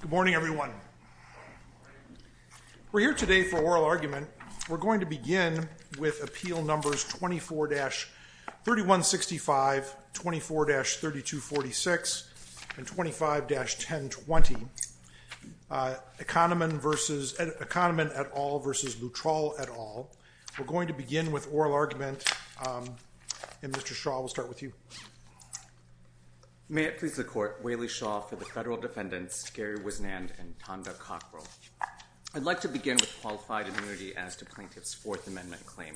Good morning everyone. We're here today for oral argument. We're going to begin with appeal numbers 24-3165, 24-3246, and 25-1020, Economan v. et al. v. Luttrull et al. We're going to begin with oral argument and Mr. Shaw will start with you. May it please the Court. Waley Shaw for the Federal Defendants, Gary Wisnand and Tonda Cockrell. I'd like to begin with qualified immunity as to Plaintiff's Fourth Amendment claim.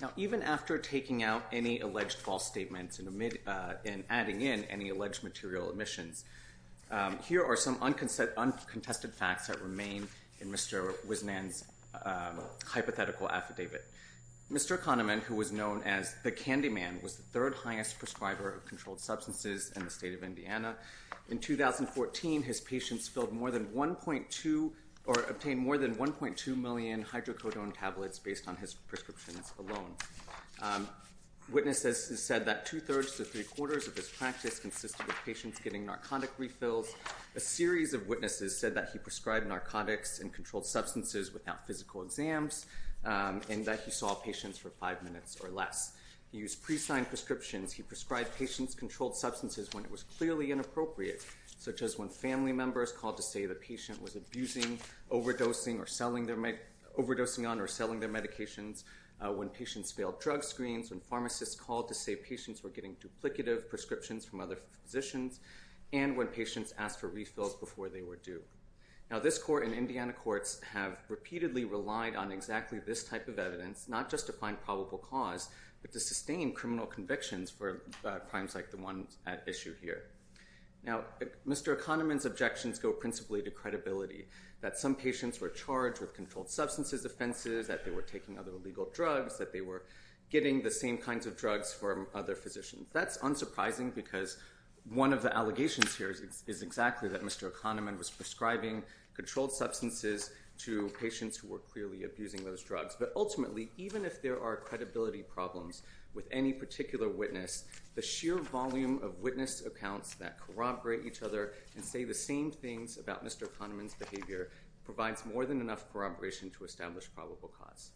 Now even after taking out any alleged false statements and adding in any alleged material omissions, here are some uncontested facts that remain in Mr. Wisnand's hypothetical affidavit. Mr. Economan, who was known as the Candyman, was the third highest prescriber of controlled substances in the state of Indiana. In 2014, his patients obtained more than 1.2 million hydrocodone tablets based on his prescriptions alone. Witnesses said that two-thirds to three-quarters of his practice consisted of patients getting narcotic refills. A series of witnesses said that he prescribed narcotics and controlled substances without physical exams and that he saw patients for five minutes or less. He used pre-signed prescriptions. He prescribed patients controlled substances when it was clearly inappropriate, such as when family members called to say the patient was abusing, overdosing on or selling their medications, when patients failed drug screens, when pharmacists called to say patients were getting duplicative prescriptions from other physicians, and when patients asked for refills before they were due. Now this court and Indiana courts have repeatedly relied on exactly this type of evidence, not just to find probable cause, but to sustain criminal convictions for crimes like the one at issue here. Now Mr. Economan's objections go principally to credibility, that some patients were charged with controlled substances offenses, that they were taking other illegal drugs, that they were getting the same kinds of drugs from other physicians. That's unsurprising because one of the allegations here is exactly that Mr. Economan was prescribing controlled substances to patients who were clearly abusing those drugs. But ultimately, even if there are credibility problems with any particular witness, the sheer volume of witness accounts that corroborate each other and say the same things about Mr. Economan's behavior provides more than enough corroboration to establish probable cause.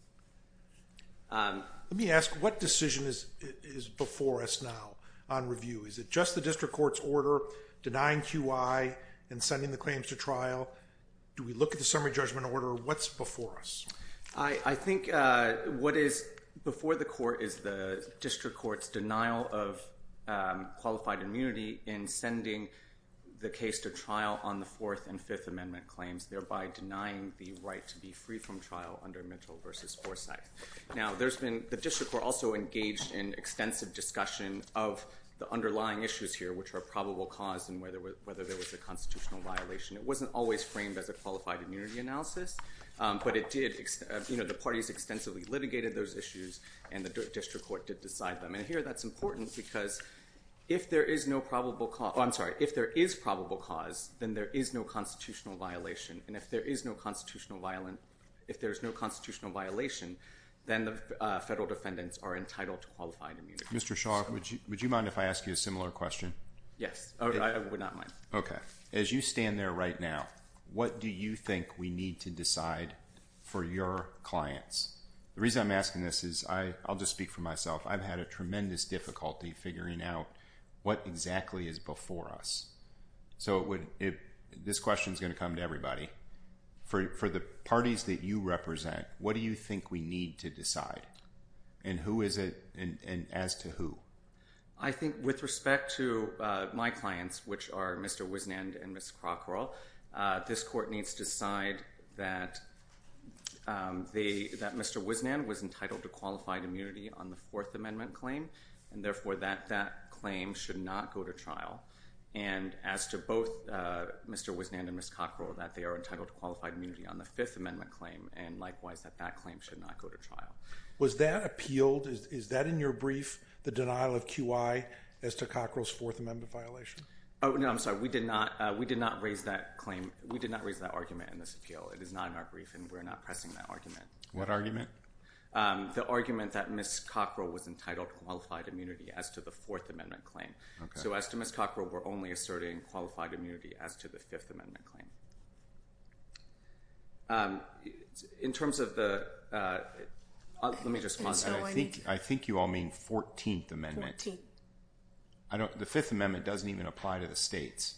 Let me ask, what decision is before us now on review? Is it just the district court's order denying QI and sending the claims to trial? Do we look at the summary judgment order? What's before us? I think what is before the court is the district court's denial of qualified immunity in sending the case to trial on the Fourth and Fifth Amendment claims, thereby denying the right to be free from trial under Mitchell v. Forsyth. Now, the district court also engaged in extensive discussion of the underlying issues here, which are probable cause and whether there was a constitutional violation. It wasn't always framed as a qualified immunity analysis, but the parties extensively litigated those issues, and the district court did decide them. Here, that's important because if there is probable cause, then there is no constitutional violation, and if there is no constitutional violation, then the federal defendants are entitled to qualified immunity. Mr. Shaw, would you mind if I ask you a similar question? Yes, I would not mind. As you stand there right now, what do you think we need to decide for your clients? The reason I'm asking this is, I'll just speak for myself, I've had a tremendous difficulty figuring out what exactly is before us. So, this question is going to come to everybody. For the parties that you represent, what do you think we need to decide, and as to who? I think with respect to my clients, which are Mr. Wisnand and Ms. Crockerall, this court needs to decide that Mr. Wisnand was entitled to qualified immunity on the Fourth Amendment claim, and therefore, that claim should not go to trial, and as to both Mr. Wisnand and Ms. Crockerall, that they are entitled to qualified immunity on the Fifth Amendment claim, and likewise, that that claim should not go to trial. Was that appealed, is that in your brief, the denial of QI as to Crockerall's Fourth Amendment violation? Oh, no, I'm sorry, we did not raise that claim, we did not raise that argument in this appeal. It is not in our brief, and we're not pressing that argument. What argument? The argument that Ms. Crockerall was entitled to qualified immunity as to the Fourth Amendment claim. So, as to Ms. Crockerall, we're only asserting qualified immunity as to the Fifth Amendment claim. In terms of the, let me just pause. I think you all mean Fourteenth Amendment. The Fifth Amendment doesn't even apply to the states.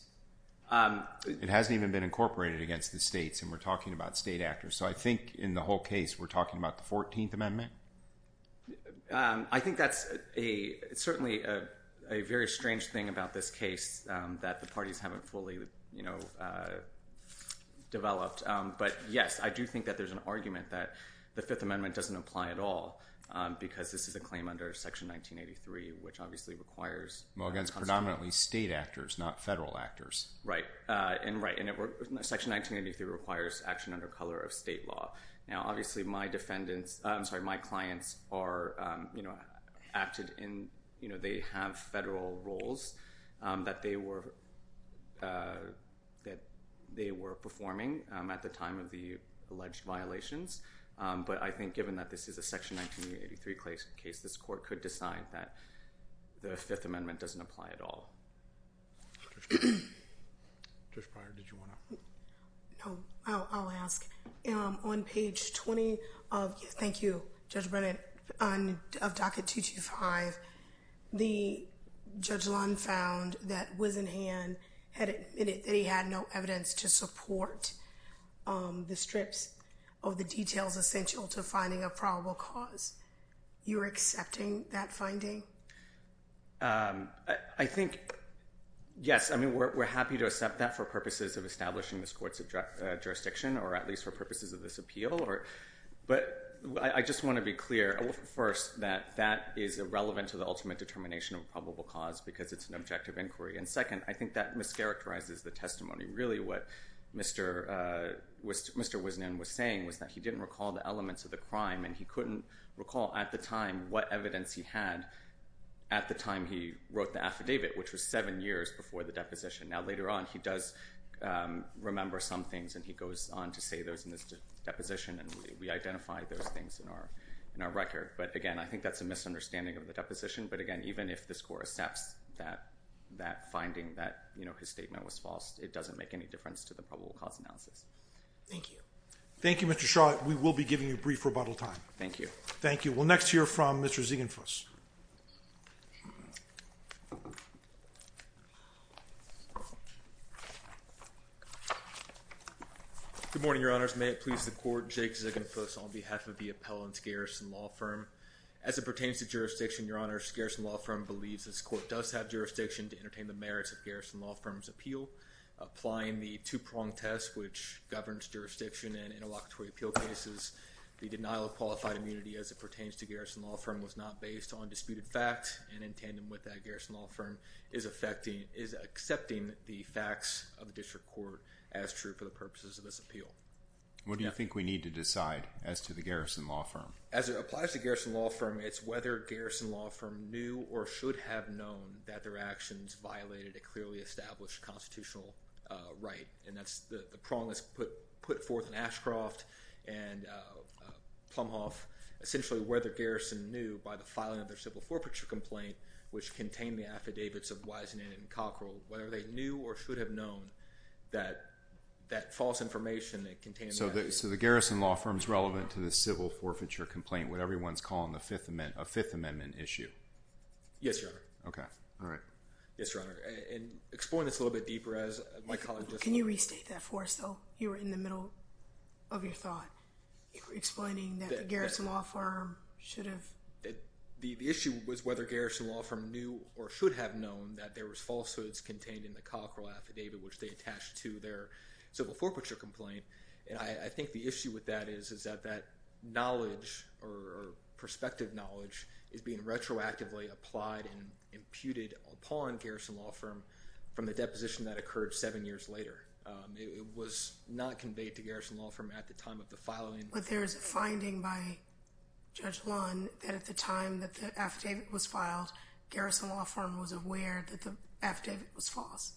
It hasn't even been incorporated against the states, and we're talking about state actors, so I think in the whole case, we're talking about the Fourteenth Amendment? I think that's certainly a very strange thing about this case that the parties haven't fully, you know, developed, but yes, I do think that there's an argument that the Fifth Amendment doesn't apply at all, because this is a claim under Section 1983, which obviously requires constraints. Well, against predominantly state actors, not federal actors. Right. Right, and Section 1983 requires action under color of state law. Now, obviously, my clients are, you know, acted in, you know, they have federal roles that they were performing at the time of the alleged violations, but I think given that this is a Section 1983 case, this court could decide that the Fifth Amendment doesn't apply at all. Judge Pryor, did you want to? No, I'll ask. On page 20 of, thank you, Judge Brennan, of Docket 225, the Judge Lund found that Wisenhan had admitted that he had no evidence to support the strips of the details essential to finding a probable cause. You're accepting that finding? I think, yes, I mean, we're happy to accept that for purposes of establishing this court's jurisdiction, or at least for purposes of this appeal, but I just want to be clear, first, that that is irrelevant to the ultimate determination of a probable cause, because it's an objective inquiry, and second, I think that mischaracterizes the testimony. Really what Mr. Wisenhan was saying was that he didn't recall the elements of the crime and he couldn't recall at the time what evidence he had at the time he wrote the affidavit, which was seven years before the deposition. Now, later on, he does remember some things, and he goes on to say those in his deposition, and we identify those things in our record, but again, I think that's a misunderstanding of the deposition, but again, even if this court accepts that finding that his statement was false, it doesn't make any difference to the probable cause analysis. Thank you. Thank you, Mr. Shaw. With that, we will be giving you a brief rebuttal time. Thank you. Thank you. We'll next hear from Mr. Ziegenfuss. Good morning, Your Honors. May it please the Court, Jake Ziegenfuss on behalf of the appellant Garrison Law Firm. As it pertains to jurisdiction, Your Honors, Garrison Law Firm believes this court does have jurisdiction to entertain the merits of Garrison Law Firm's appeal, applying the two-pronged test which governs jurisdiction in interlocutory appeal cases. The denial of qualified immunity as it pertains to Garrison Law Firm was not based on disputed facts, and in tandem with that, Garrison Law Firm is accepting the facts of the district court as true for the purposes of this appeal. What do you think we need to decide as to the Garrison Law Firm? As it applies to Garrison Law Firm, it's whether Garrison Law Firm knew or should have known that their actions violated a clearly established constitutional right, and that's the prong that's put forth in Ashcroft and Plumhoff, essentially whether Garrison knew by the filing of their civil forfeiture complaint, which contained the affidavits of Wisenan and Cockrell, whether they knew or should have known that that false information that contained that So the Garrison Law Firm's relevant to the civil forfeiture complaint, what everyone's calling a Fifth Amendment issue? Yes, Your Honor. Okay, all right. Yes, Your Honor. And explain this a little bit deeper as my colleague just- Can you restate that for us, though? You were in the middle of your thought, explaining that the Garrison Law Firm should have- The issue was whether Garrison Law Firm knew or should have known that there was falsehoods contained in the Cockrell affidavit, which they attached to their civil forfeiture complaint, and I think the issue with that is that that knowledge or perspective knowledge is being retroactively applied and imputed upon Garrison Law Firm from the deposition that occurred seven years later. It was not conveyed to Garrison Law Firm at the time of the filing. But there's a finding by Judge Lund that at the time that the affidavit was filed, Garrison Law Firm was aware that the affidavit was false.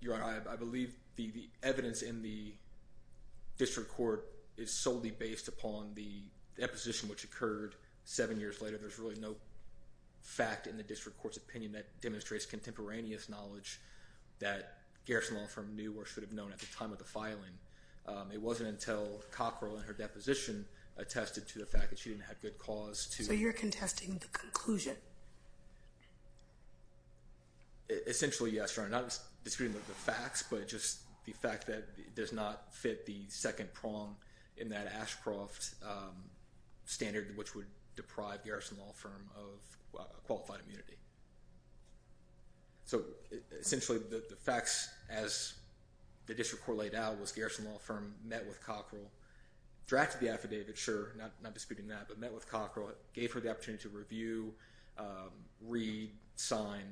Your Honor, I believe the evidence in the district court is solely based upon the deposition which occurred seven years later. There's really no fact in the district court's opinion that demonstrates contemporaneous knowledge that Garrison Law Firm knew or should have known at the time of the filing. It wasn't until Cockrell and her deposition attested to the fact that she didn't have good cause to- So you're contesting the conclusion? Essentially, yes, Your Honor. Not disputing the facts, but just the fact that it does not fit the second prong in that Ashcroft standard which would deprive Garrison Law Firm of qualified immunity. So essentially, the facts as the district court laid out was Garrison Law Firm met with Cockrell, drafted the affidavit, sure, not disputing that, but met with Cockrell, gave her the opportunity to review, read, sign,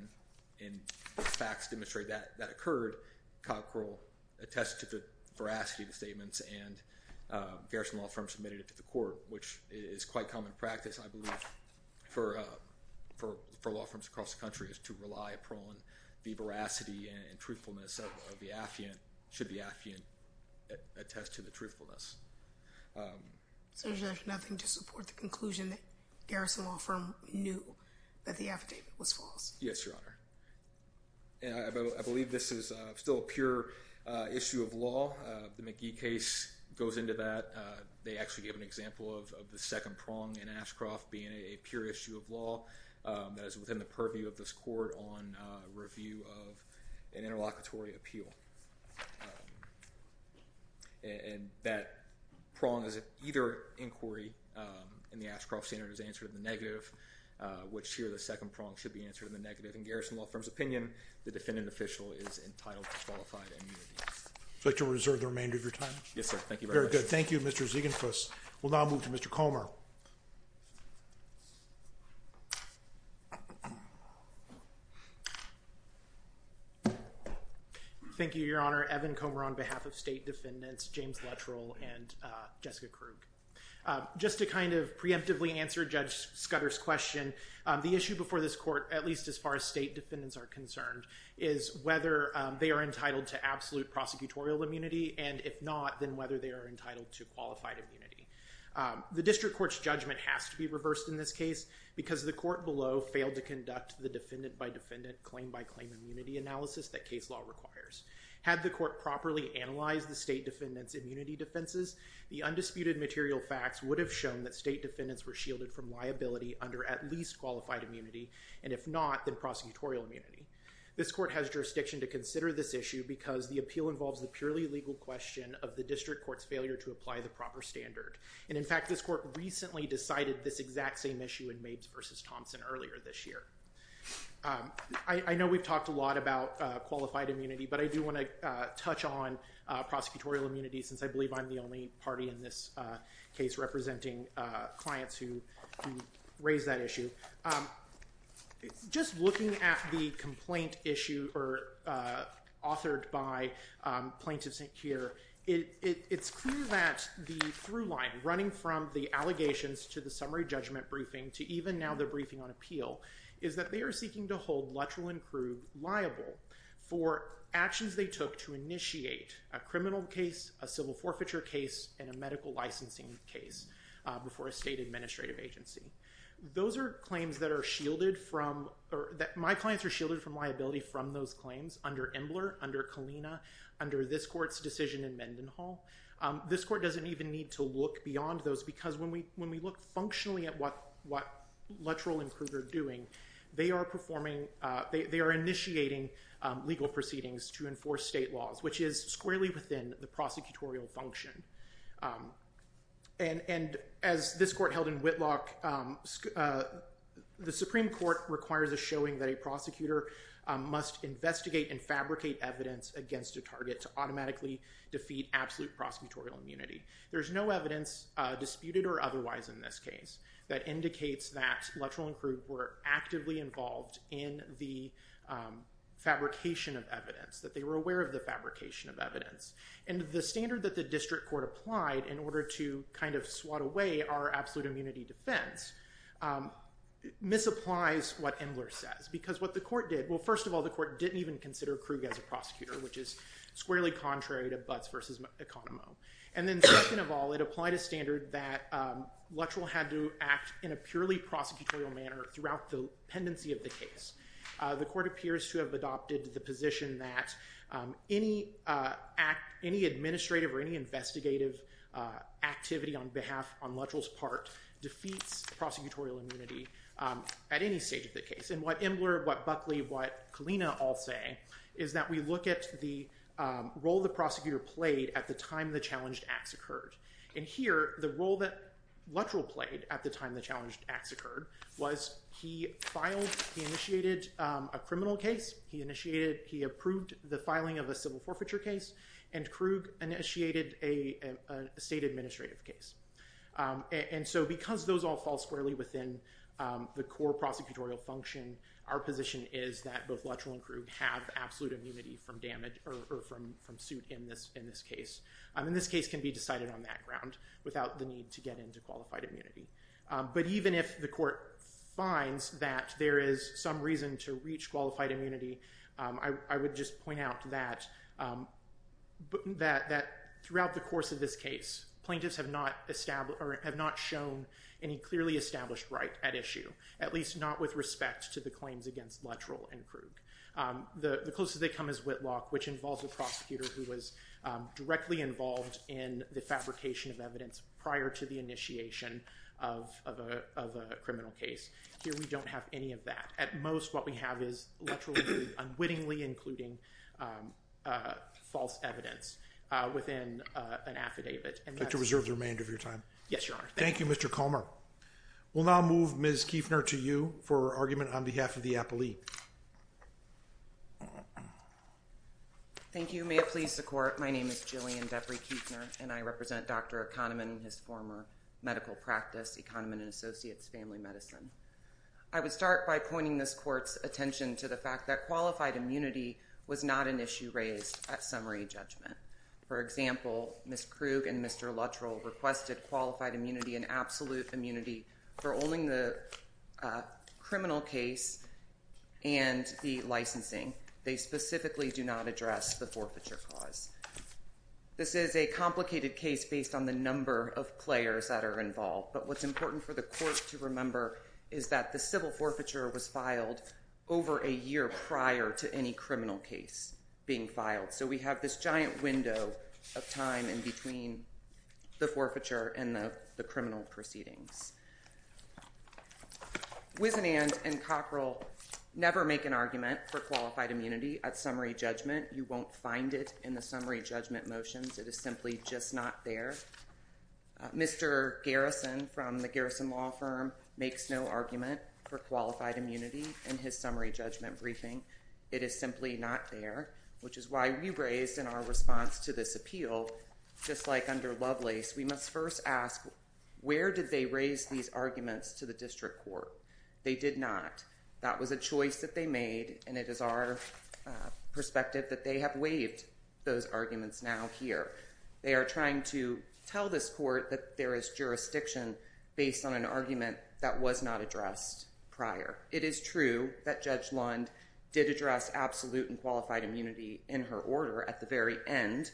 and the facts demonstrate that that occurred. However, Cockrell attested to the veracity of the statements and Garrison Law Firm submitted it to the court, which is quite common practice, I believe, for law firms across the country is to rely upon the veracity and truthfulness of the affiant, should the affiant attest to the truthfulness. So there's nothing to support the conclusion that Garrison Law Firm knew that the affidavit was false? Yes, Your Honor. And I believe this is still a pure issue of law, the McGee case goes into that, they actually gave an example of the second prong in Ashcroft being a pure issue of law that is within the purview of this court on review of an interlocutory appeal. And that prong is either inquiry in the Ashcroft standard is answered in the negative, which or the second prong should be answered in the negative. In Garrison Law Firm's opinion, the defendant official is entitled to qualified immunity. Would you like to reserve the remainder of your time? Yes, sir. Thank you very much. Thank you, Mr. Ziegenfuss. We'll now move to Mr. Comer. Thank you, Your Honor. Evan Comer on behalf of State Defendants, James Lettrell, and Jessica Krug. Just to kind of preemptively answer Judge Scudder's question, the issue before this court, at least as far as State Defendants are concerned, is whether they are entitled to absolute prosecutorial immunity, and if not, then whether they are entitled to qualified immunity. The district court's judgment has to be reversed in this case because the court below failed to conduct the defendant by defendant, claim by claim immunity analysis that case law requires. Had the court properly analyzed the State Defendant's immunity defenses, the undisputed material facts would have shown that State Defendants were shielded from liability under at least qualified immunity, and if not, then prosecutorial immunity. This court has jurisdiction to consider this issue because the appeal involves the purely legal question of the district court's failure to apply the proper standard, and in fact, this court recently decided this exact same issue in Mabes v. Thompson earlier this year. I know we've talked a lot about qualified immunity, but I do want to touch on prosecutorial immunity since I believe I'm the only party in this case representing clients who raise that issue. Just looking at the complaint issue authored by Plaintiff's Inquirer, it's clear that the through line running from the allegations to the summary judgment briefing to even now the briefing on appeal is that they are seeking to hold Luttrell and Crew liable for actions they took to initiate a criminal case, a civil forfeiture case, and a medical licensing case before a state administrative agency. Those are claims that are shielded from or that my clients are shielded from liability from those claims under Embler, under Kalina, under this court's decision in Mendenhall. This court doesn't even need to look beyond those because when we look functionally at what Luttrell and Crew are doing, they are initiating legal proceedings to enforce state laws, which is squarely within the prosecutorial function. As this court held in Whitlock, the Supreme Court requires a showing that a prosecutor must investigate and fabricate evidence against a target to automatically defeat absolute prosecutorial immunity. There's no evidence disputed or otherwise in this case that indicates that Luttrell and Crew were actively involved in the fabrication of evidence, that they were aware of the fabrication of evidence. And the standard that the district court applied in order to kind of swat away our absolute immunity defense misapplies what Embler says because what the court did, well first of all the court didn't even consider Crew as a prosecutor, which is squarely contrary to Butts versus Economo. And then second of all, it applied a standard that Luttrell had to act in a purely prosecutorial manner throughout the pendency of the case. The court appears to have adopted the position that any administrative or any investigative activity on behalf, on Luttrell's part, defeats prosecutorial immunity at any stage of the case. And what Embler, what Buckley, what Kalina all say is that we look at the role the prosecutor played at the time the challenged acts occurred. And here the role that Luttrell played at the time the challenged acts occurred was he filed, he initiated a criminal case, he initiated, he approved the filing of a civil forfeiture case, and Crew initiated a state administrative case. And so because those all fall squarely within the core prosecutorial function, our position is that both Luttrell and Crew have absolute immunity from damage or from suit in this case. And this case can be decided on that ground without the need to get into qualified immunity. But even if the court finds that there is some reason to reach qualified immunity, I would just point out that throughout the course of this case, plaintiffs have not shown any clearly established right at issue, at least not with respect to the claims against Luttrell and Crew. The closest they come is Whitlock, which involves a prosecutor who was directly involved in the fabrication of evidence prior to the initiation of a criminal case. Here we don't have any of that. At most, what we have is Luttrell unwittingly including false evidence within an affidavit. And that's... I'd like to reserve the remainder of your time. Yes, Your Honor. Thank you, Mr. Comer. We'll now move Ms. Kueffner to you for argument on behalf of the appellee. Thank you. May it please the court. My name is Jillian Beverly Kueffner, and I represent Dr. Kahneman and his former medical practice, Kahneman and Associates Family Medicine. I would start by pointing this court's attention to the fact that qualified immunity was not an issue raised at summary judgment. For example, Ms. Krug and Mr. Luttrell requested qualified immunity and absolute immunity for owning the criminal case and the licensing. They specifically do not address the forfeiture cause. This is a complicated case based on the number of players that are involved. But what's important for the court to remember is that the civil forfeiture was filed over a year prior to any criminal case being filed. So we have this giant window of time in between the forfeiture and the criminal proceedings. Wisenand and Cockrell never make an argument for qualified immunity at summary judgment. You won't find it in the summary judgment motions. It is simply just not there. Mr. Garrison from the Garrison Law Firm makes no argument for qualified immunity in his summary judgment briefing. It is simply not there, which is why we raised in our response to this appeal, just like under Lovelace, we must first ask, where did they raise these arguments to the district court? They did not. That was a choice that they made, and it is our perspective that they have waived those arguments now here. They are trying to tell this court that there is jurisdiction based on an argument that was not addressed prior. It is true that Judge Lund did address absolute and qualified immunity in her order at the very end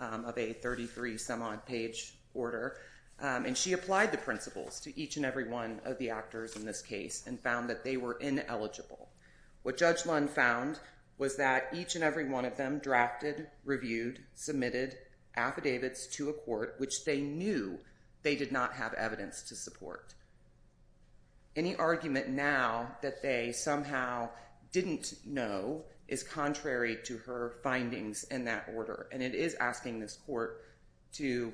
of a 33-some-odd-page order, and she applied the principles to each and every one of the actors in this case and found that they were ineligible. What Judge Lund found was that each and every one of them drafted, reviewed, submitted affidavits to a court which they knew they did not have evidence to support. Any argument now that they somehow did not know is contrary to her findings in that order, and it is asking this court to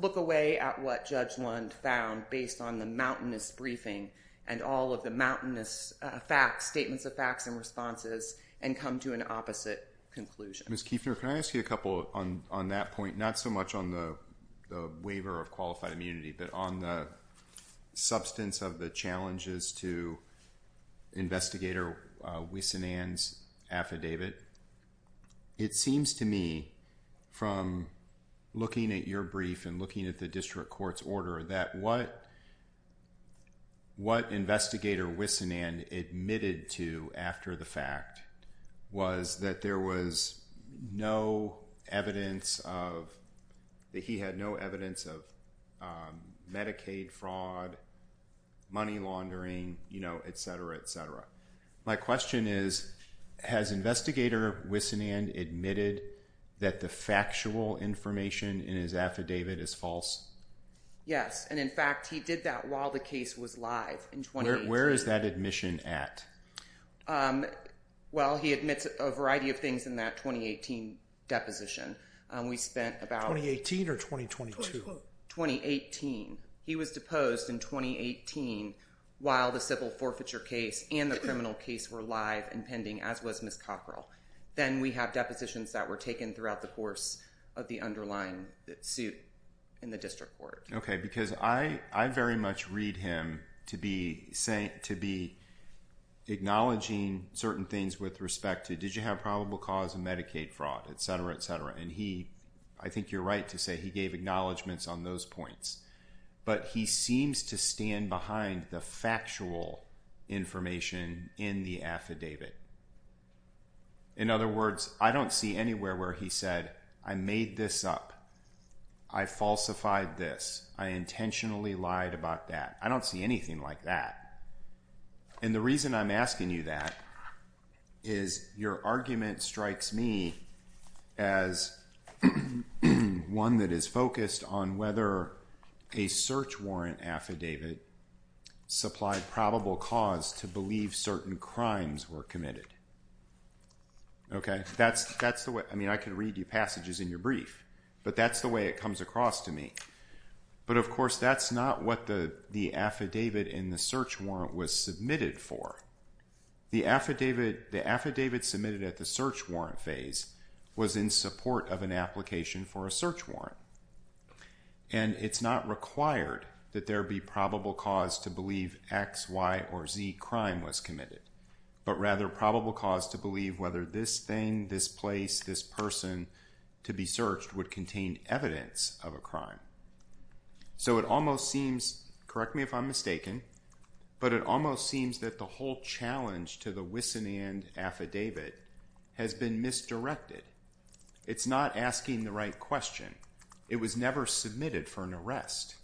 look away at what Judge Lund found based on the mountainous briefing and all of the mountainous facts, statements of facts and responses, and come to an opposite conclusion. Ms. Kiefner, can I ask you a couple on that point, not so much on the waiver of qualified immunity, but on the substance of the challenges to Investigator Wissanand's affidavit? It seems to me, from looking at your brief and looking at the district court's order, that what Investigator Wissanand admitted to after the fact was that there was no evidence that he had no evidence of Medicaid fraud, money laundering, et cetera, et cetera. My question is, has Investigator Wissanand admitted that the factual information in his affidavit is false? Yes, and in fact, he did that while the case was live in 2018. Where is that admission at? Well, he admits a variety of things in that 2018 deposition. We spent about... 2018 or 2022? 2018. He was deposed in 2018 while the civil forfeiture case and the criminal case were live and pending, as was Ms. Cockrell. Then we have depositions that were taken throughout the course of the underlying suit in the district court. Okay, because I very much read him to be acknowledging certain things with respect to, did you have probable cause of Medicaid fraud, et cetera, et cetera. I think you're right to say he gave acknowledgments on those points, but he seems to stand behind the factual information in the affidavit. In other words, I don't see anywhere where he said, I made this up. I falsified this. I intentionally lied about that. I don't see anything like that. And the reason I'm asking you that is your argument strikes me as one that is focused on whether a search warrant affidavit supplied probable cause to believe certain crimes were Okay? I mean, I can read you passages in your brief, but that's the way it comes across to me. But of course, that's not what the affidavit in the search warrant was submitted for. The affidavit submitted at the search warrant phase was in support of an application for a search warrant. And it's not required that there be probable cause to believe X, Y, or Z crime was committed, but rather probable cause to believe whether this thing, this place, this person to be searched would contain evidence of a crime. So it almost seems, correct me if I'm mistaken, but it almost seems that the whole challenge to the Wisson and affidavit has been misdirected. It's not asking the right question. It was never submitted for an arrest.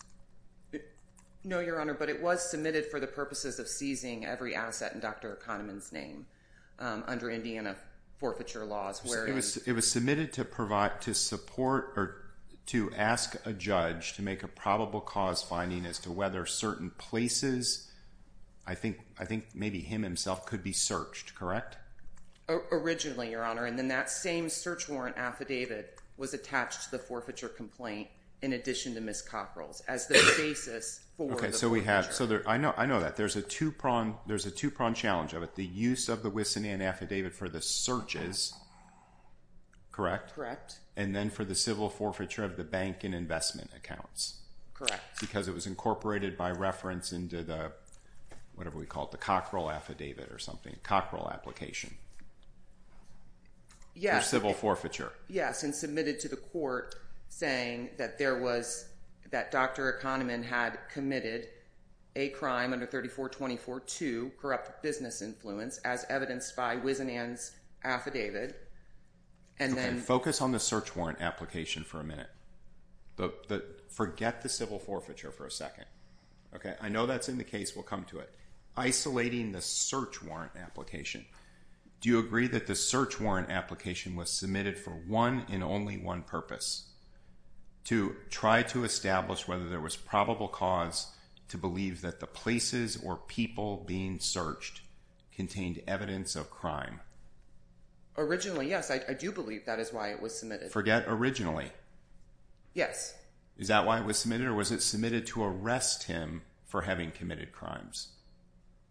No, Your Honor, but it was submitted for the purposes of seizing every asset in Dr. O'Connorman's name under Indiana forfeiture laws. It was submitted to provide, to support, or to ask a judge to make a probable cause finding as to whether certain places, I think maybe him himself could be searched, correct? Originally, Your Honor, and then that same search warrant affidavit was attached to the various cockerels as the basis for the forfeiture. Okay, so I know that. There's a two-pronged challenge of it. The use of the Wisson and affidavit for the searches, correct? Correct. And then for the civil forfeiture of the bank and investment accounts. Correct. Because it was incorporated by reference into the, whatever we call it, the cockerel affidavit or something, cockerel application for civil forfeiture. Yes, and submitted to the court saying that there was, that Dr. O'Connorman had committed a crime under 3424-2, corrupt business influence, as evidenced by Wisson and's affidavit, and then... Okay, focus on the search warrant application for a minute. Forget the civil forfeiture for a second, okay? I know that's in the case. We'll come to it. Isolating the search warrant application. Do you agree that the search warrant application was submitted for one and only one purpose, to try to establish whether there was probable cause to believe that the places or people being searched contained evidence of crime? Originally, yes. I do believe that is why it was submitted. Forget originally. Yes. Is that why it was submitted, or was it submitted to arrest him for having committed crimes?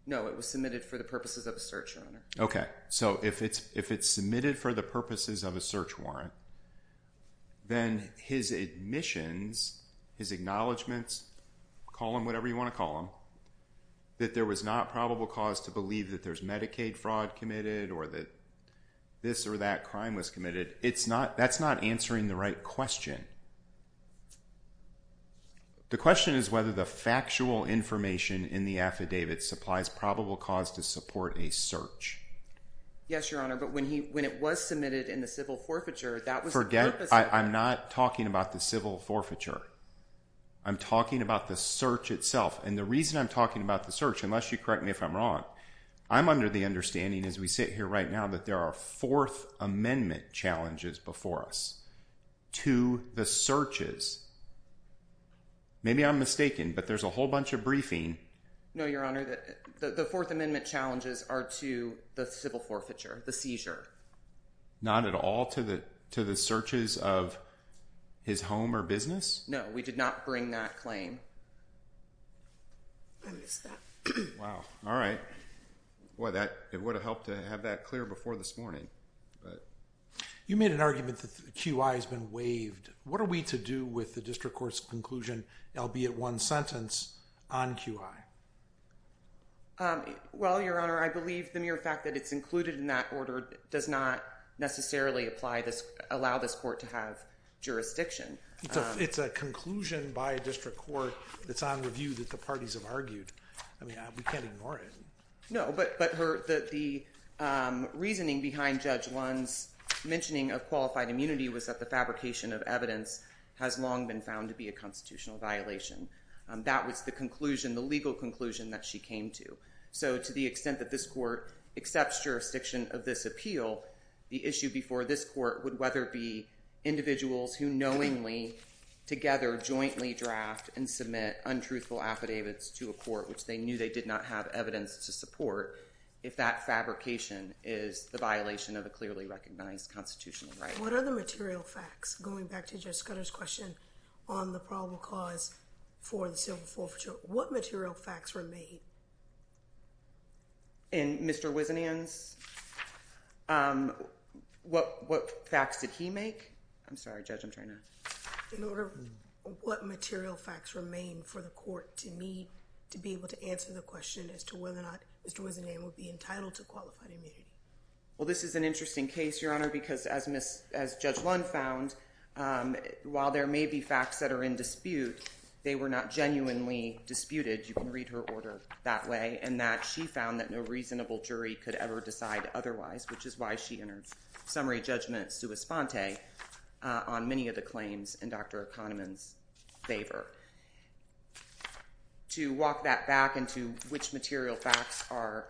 No, it was submitted for the purposes of a search warrant. Okay, so if it's submitted for the purposes of a search warrant, then his admissions, his acknowledgements, call them whatever you want to call them, that there was not probable cause to believe that there's Medicaid fraud committed, or that this or that crime was committed, that's not answering the right question. The question is whether the factual information in the affidavit supplies probable cause to support a search. Yes, Your Honor, but when it was submitted in the civil forfeiture, that was the purpose of it. I'm not talking about the civil forfeiture. I'm talking about the search itself, and the reason I'm talking about the search, unless you correct me if I'm wrong, I'm under the understanding, as we sit here right now, that there are Fourth Amendment challenges before us to the searches. Maybe I'm mistaken, but there's a whole bunch of briefing. No, Your Honor, the Fourth Amendment challenges are to the civil forfeiture, the seizure. Not at all to the searches of his home or business? No, we did not bring that claim. I missed that. Wow. All right. It would have helped to have that clear before this morning. You made an argument that the QI has been waived. What are we to do with the district court's conclusion, albeit one sentence, on QI? Well, Your Honor, I believe the mere fact that it's included in that order does not necessarily allow this court to have jurisdiction. It's a conclusion by a district court that's on review that the parties have argued. We can't ignore it. No, but the reasoning behind Judge Lund's mentioning of qualified immunity was that the fabrication of evidence has long been found to be a constitutional violation. That was the conclusion, the legal conclusion, that she came to. So, to the extent that this court accepts jurisdiction of this appeal, the issue before this court would whether it be individuals who knowingly, together, jointly draft and to support if that fabrication is the violation of a clearly recognized constitutional right. What are the material facts, going back to Judge Scudder's question on the probable cause for the civil forfeiture? What material facts were made? In Mr. Wisenand's? What facts did he make? I'm sorry, Judge. I'm trying to… In order, what material facts remain for the court to need to be able to answer the question as to whether or not Mr. Wisenand would be entitled to qualified immunity? Well, this is an interesting case, Your Honor, because as Judge Lund found, while there may be facts that are in dispute, they were not genuinely disputed. You can read her order that way. And that she found that no reasonable jury could ever decide otherwise, which is why she entered summary judgment sui sponte on many of the claims in Dr. Kahneman's favor. To walk that back into which material facts are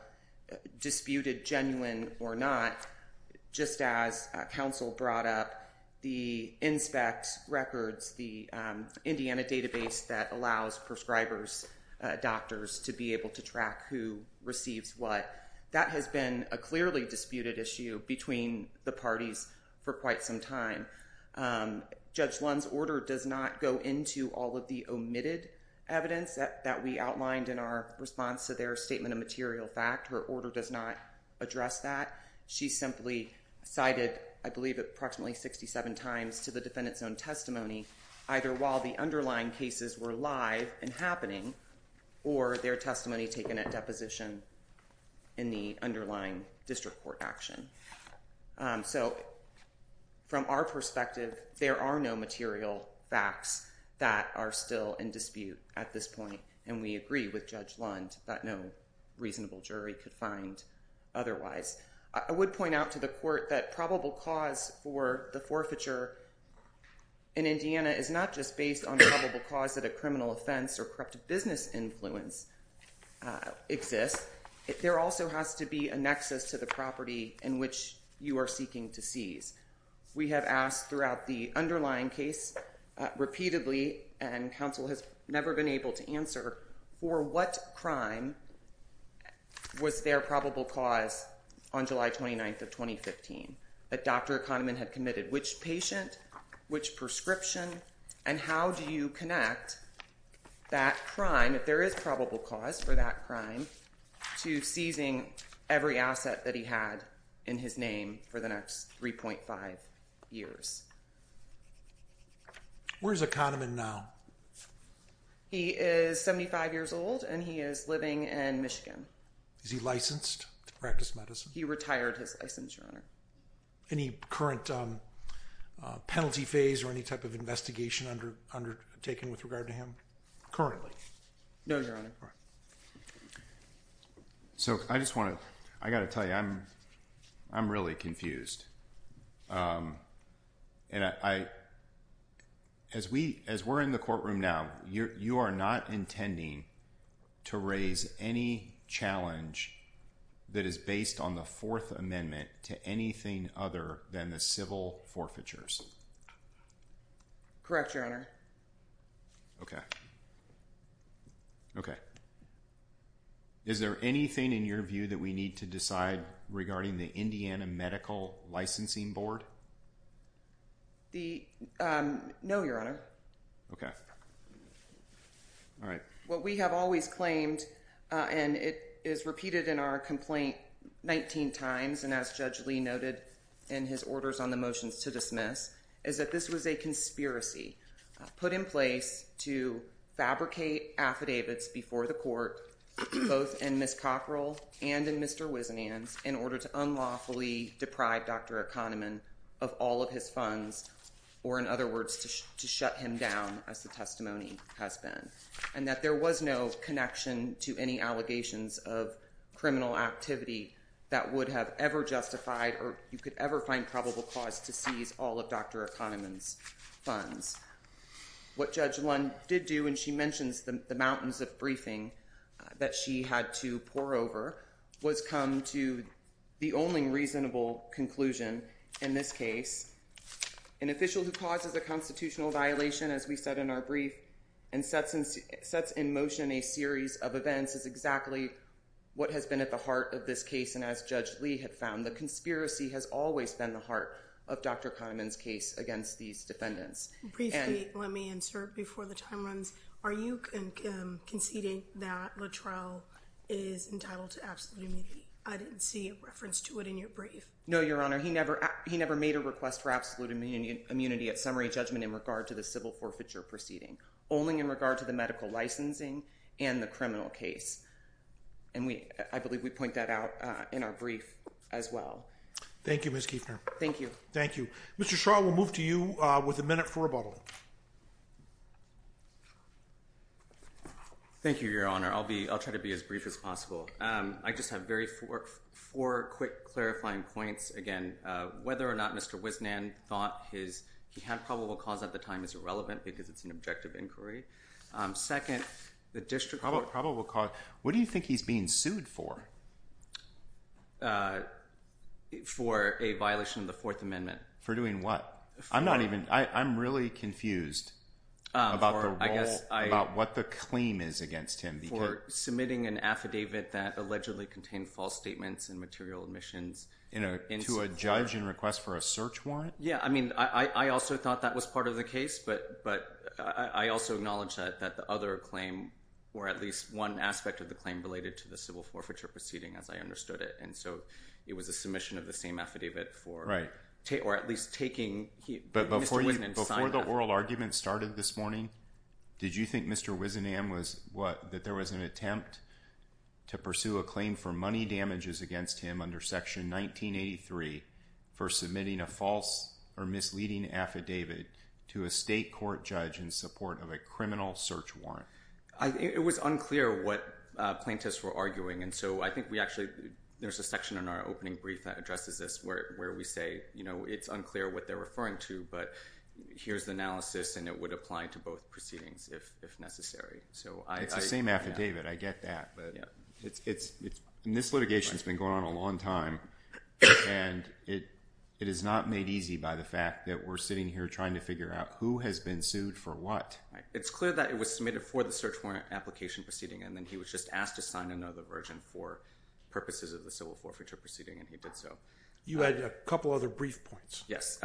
disputed genuine or not, just as counsel brought up the INSPECT records, the Indiana database that allows prescribers, doctors to be able to track who receives what, that has been a clearly disputed issue between the parties for quite some time. Judge Lund's order does not go into all of the omitted evidence that we outlined in our response to their statement of material fact. Her order does not address that. She simply cited, I believe, approximately 67 times to the defendant's own testimony, either while the underlying cases were live and happening, or their testimony taken at deposition in the underlying district court action. So from our perspective, there are no material facts that are still in dispute at this point. And we agree with Judge Lund that no reasonable jury could find otherwise. I would point out to the court that probable cause for the forfeiture in Indiana is not just based on probable cause that a criminal offense or corrupt business influence exists. There also has to be a nexus to the property in which you are seeking to seize. We have asked throughout the underlying case, repeatedly, and counsel has never been able to answer, for what crime was there probable cause on July 29th of 2015 that Dr. Kahneman had committed? Which patient, which prescription, and how do you connect that crime, if there is probable cause for that crime, to seizing every asset that he had in his name for the next 3.5 years? Where is Kahneman now? He is 75 years old and he is living in Michigan. Is he licensed to practice medicine? He retired his license, Your Honor. Any current penalty phase or any type of investigation undertaken with regard to him currently? No, Your Honor. So, I just want to, I got to tell you, I'm really confused. As we're in the courtroom now, you are not intending to raise any challenge that is based on the Fourth Amendment to anything other than the civil forfeitures? Correct, Your Honor. Okay. Okay. Is there anything in your view that we need to decide regarding the Indiana Medical Licensing Board? The, um, no, Your Honor. Alright. What we have always claimed, and it is repeated in our complaint 19 times, and as Judge Lee noted in his orders on the motions to dismiss, is that this was a conspiracy put in place to fabricate affidavits before the court, both in Ms. Cockrell and in Mr. Wisenand's, in order to unlawfully deprive Dr. Kahneman of all of his funds, or in other words, to shut him down, as the testimony has been. And that there was no connection to any allegations of criminal activity that would have ever justified, or you could ever find probable cause to seize all of Dr. Kahneman's funds. What Judge Lund did do, and she mentions the mountains of briefing that she had to pour over, was come to the only reasonable conclusion in this case. An official who causes a constitutional violation, as we said in our brief, and sets in motion a series of events is exactly what has been at the heart of this case. And as Judge Lee had found, the conspiracy has always been the heart of Dr. Kahneman's case against these defendants. Briefly, let me insert before the time runs, are you conceding that Luttrell is entitled to absolute immunity? I didn't see a reference to it in your brief. No, Your Honor, he never made a request for absolute immunity at summary judgment in regard to the civil forfeiture proceeding. Only in regard to the medical licensing and the criminal case. And I believe we point that out in our brief as well. Thank you, Ms. Kueffner. Thank you. Mr. Shaw, we'll move to you with a minute for rebuttal. Thank you, Your Honor. I'll try to be as brief as possible. I just have four quick clarifying points. Again, whether or not Mr. Wisnan thought he had probable cause at the time is irrelevant because it's an objective inquiry. Second, the district court... Probable cause. Mr. Shaw, what do you think he's being sued for? For a violation of the Fourth Amendment. For doing what? I'm really confused about what the claim is against him. For submitting an affidavit that allegedly contained false statements and material omissions. To a judge in request for a search warrant? Yeah, I mean, I also thought that was part of the case, but I also acknowledge that the other claim, or at least one aspect of the claim related to the civil forfeiture proceeding, as I understood it. And so, it was a submission of the same affidavit for... Or at least taking... Before the oral argument started this morning, did you think Mr. Wisnan was... What? That there was an attempt to pursue a claim for money damages against him under Section 1983 for submitting a false or misleading affidavit to a state court judge in support of a criminal search warrant? It was unclear what plaintiffs were arguing. And so, I think we actually... There's a section in our opening brief that addresses this where we say, you know, it's unclear what they're referring to, but here's the analysis and it would apply to both proceedings if necessary. So, I... It's the same affidavit. I get that. But it's... And this litigation has been going on a long time. And it is not made easy by the fact that we're sitting here trying to figure out who has been sued for what. Right. It's clear that it was submitted for the search warrant application proceeding and then he was just asked to sign another version for purposes of the civil forfeiture proceeding and he did so. You had a couple other brief points. Yes.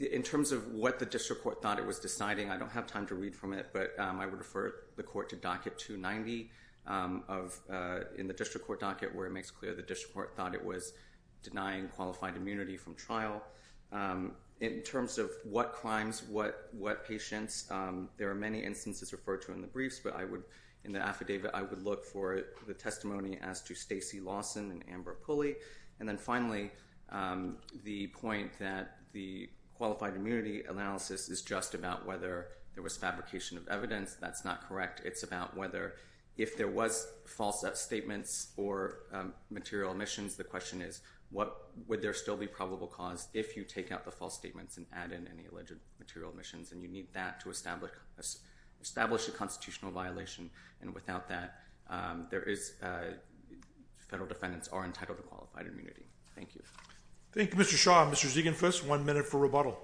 In terms of what the district court thought it was deciding, I don't have time to read from it, but I would refer the court to docket 290 of... In the district court docket where it makes clear the district court thought it was denying qualified immunity from trial. In terms of what crimes, what patients, there are many instances referred to in the briefs, but I would... In the affidavit, I would look for the testimony as to Stacy Lawson and Amber Pulley. And then finally, the point that the qualified immunity analysis is just about whether there was fabrication of evidence. That's not correct. It's about whether if there was false statements or material omissions, the question is what... Would there still be probable cause if you take out the false statements and add in any alleged material omissions? And you need that to establish a constitutional violation. And without that, there is... Federal defendants are entitled to qualified immunity. Thank you. Thank you, Mr. Shaw. Mr. Ziegenfuss, one minute for rebuttal.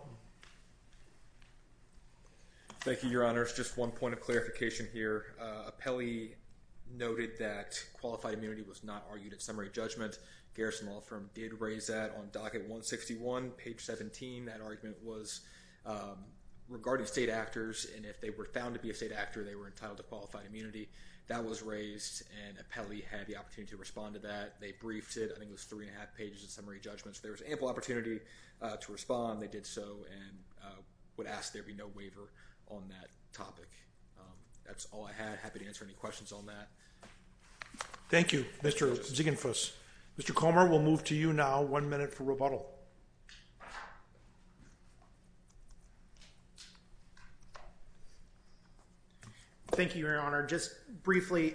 Thank you, Your Honors. Just one point of clarification here. Apelli noted that qualified immunity was not argued at summary judgment. Garrison Law Firm did raise that on docket 161, page 17. That argument was regarding state actors, and if they were found to be a state actor, they were entitled to qualified immunity. That was raised, and Apelli had the opportunity to respond to that. They briefed it. I think it was three and a half pages of summary judgments. There was ample opportunity to respond. They did so and would ask there be no waiver on that topic. That's all I had. Happy to answer any questions on that. Thank you, Mr. Ziegenfuss. Mr. Comer, we'll move to you now. One minute for rebuttal. Thank you, Your Honor. Just briefly,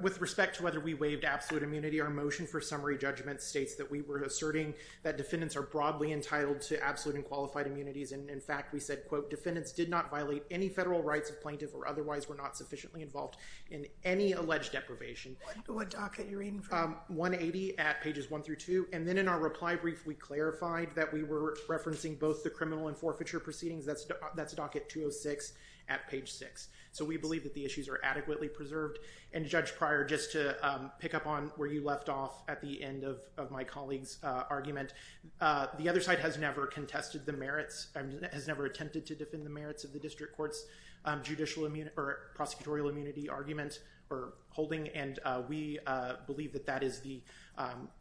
with respect to whether we waived absolute immunity, our motion for summary judgment states that we were asserting that defendants are broadly entitled to absolute and qualified immunities. In fact, we said, quote, defendants did not violate any federal rights of plaintiff or otherwise were not sufficiently involved in any alleged deprivation. What docket are you reading from? 180 at pages one through two. Then in our reply brief, we clarified that we were referencing both the criminal and forfeiture proceedings. That's docket 206 at page six. We believe that the issues are adequately preserved. Judge Pryor, just to pick up on where you left off at the end of my colleague's the other side has never contested the merits, has never attempted to defend the merits of the district court's prosecutorial immunity argument or holding. And we believe that that is the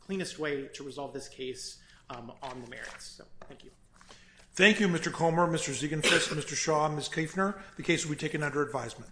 cleanest way to resolve this case on the merits. So thank you. Thank you, Mr. Comer, Mr. Ziegenfest, Mr. Shaw, Ms. Kaeffner. The case will be taken under advisement.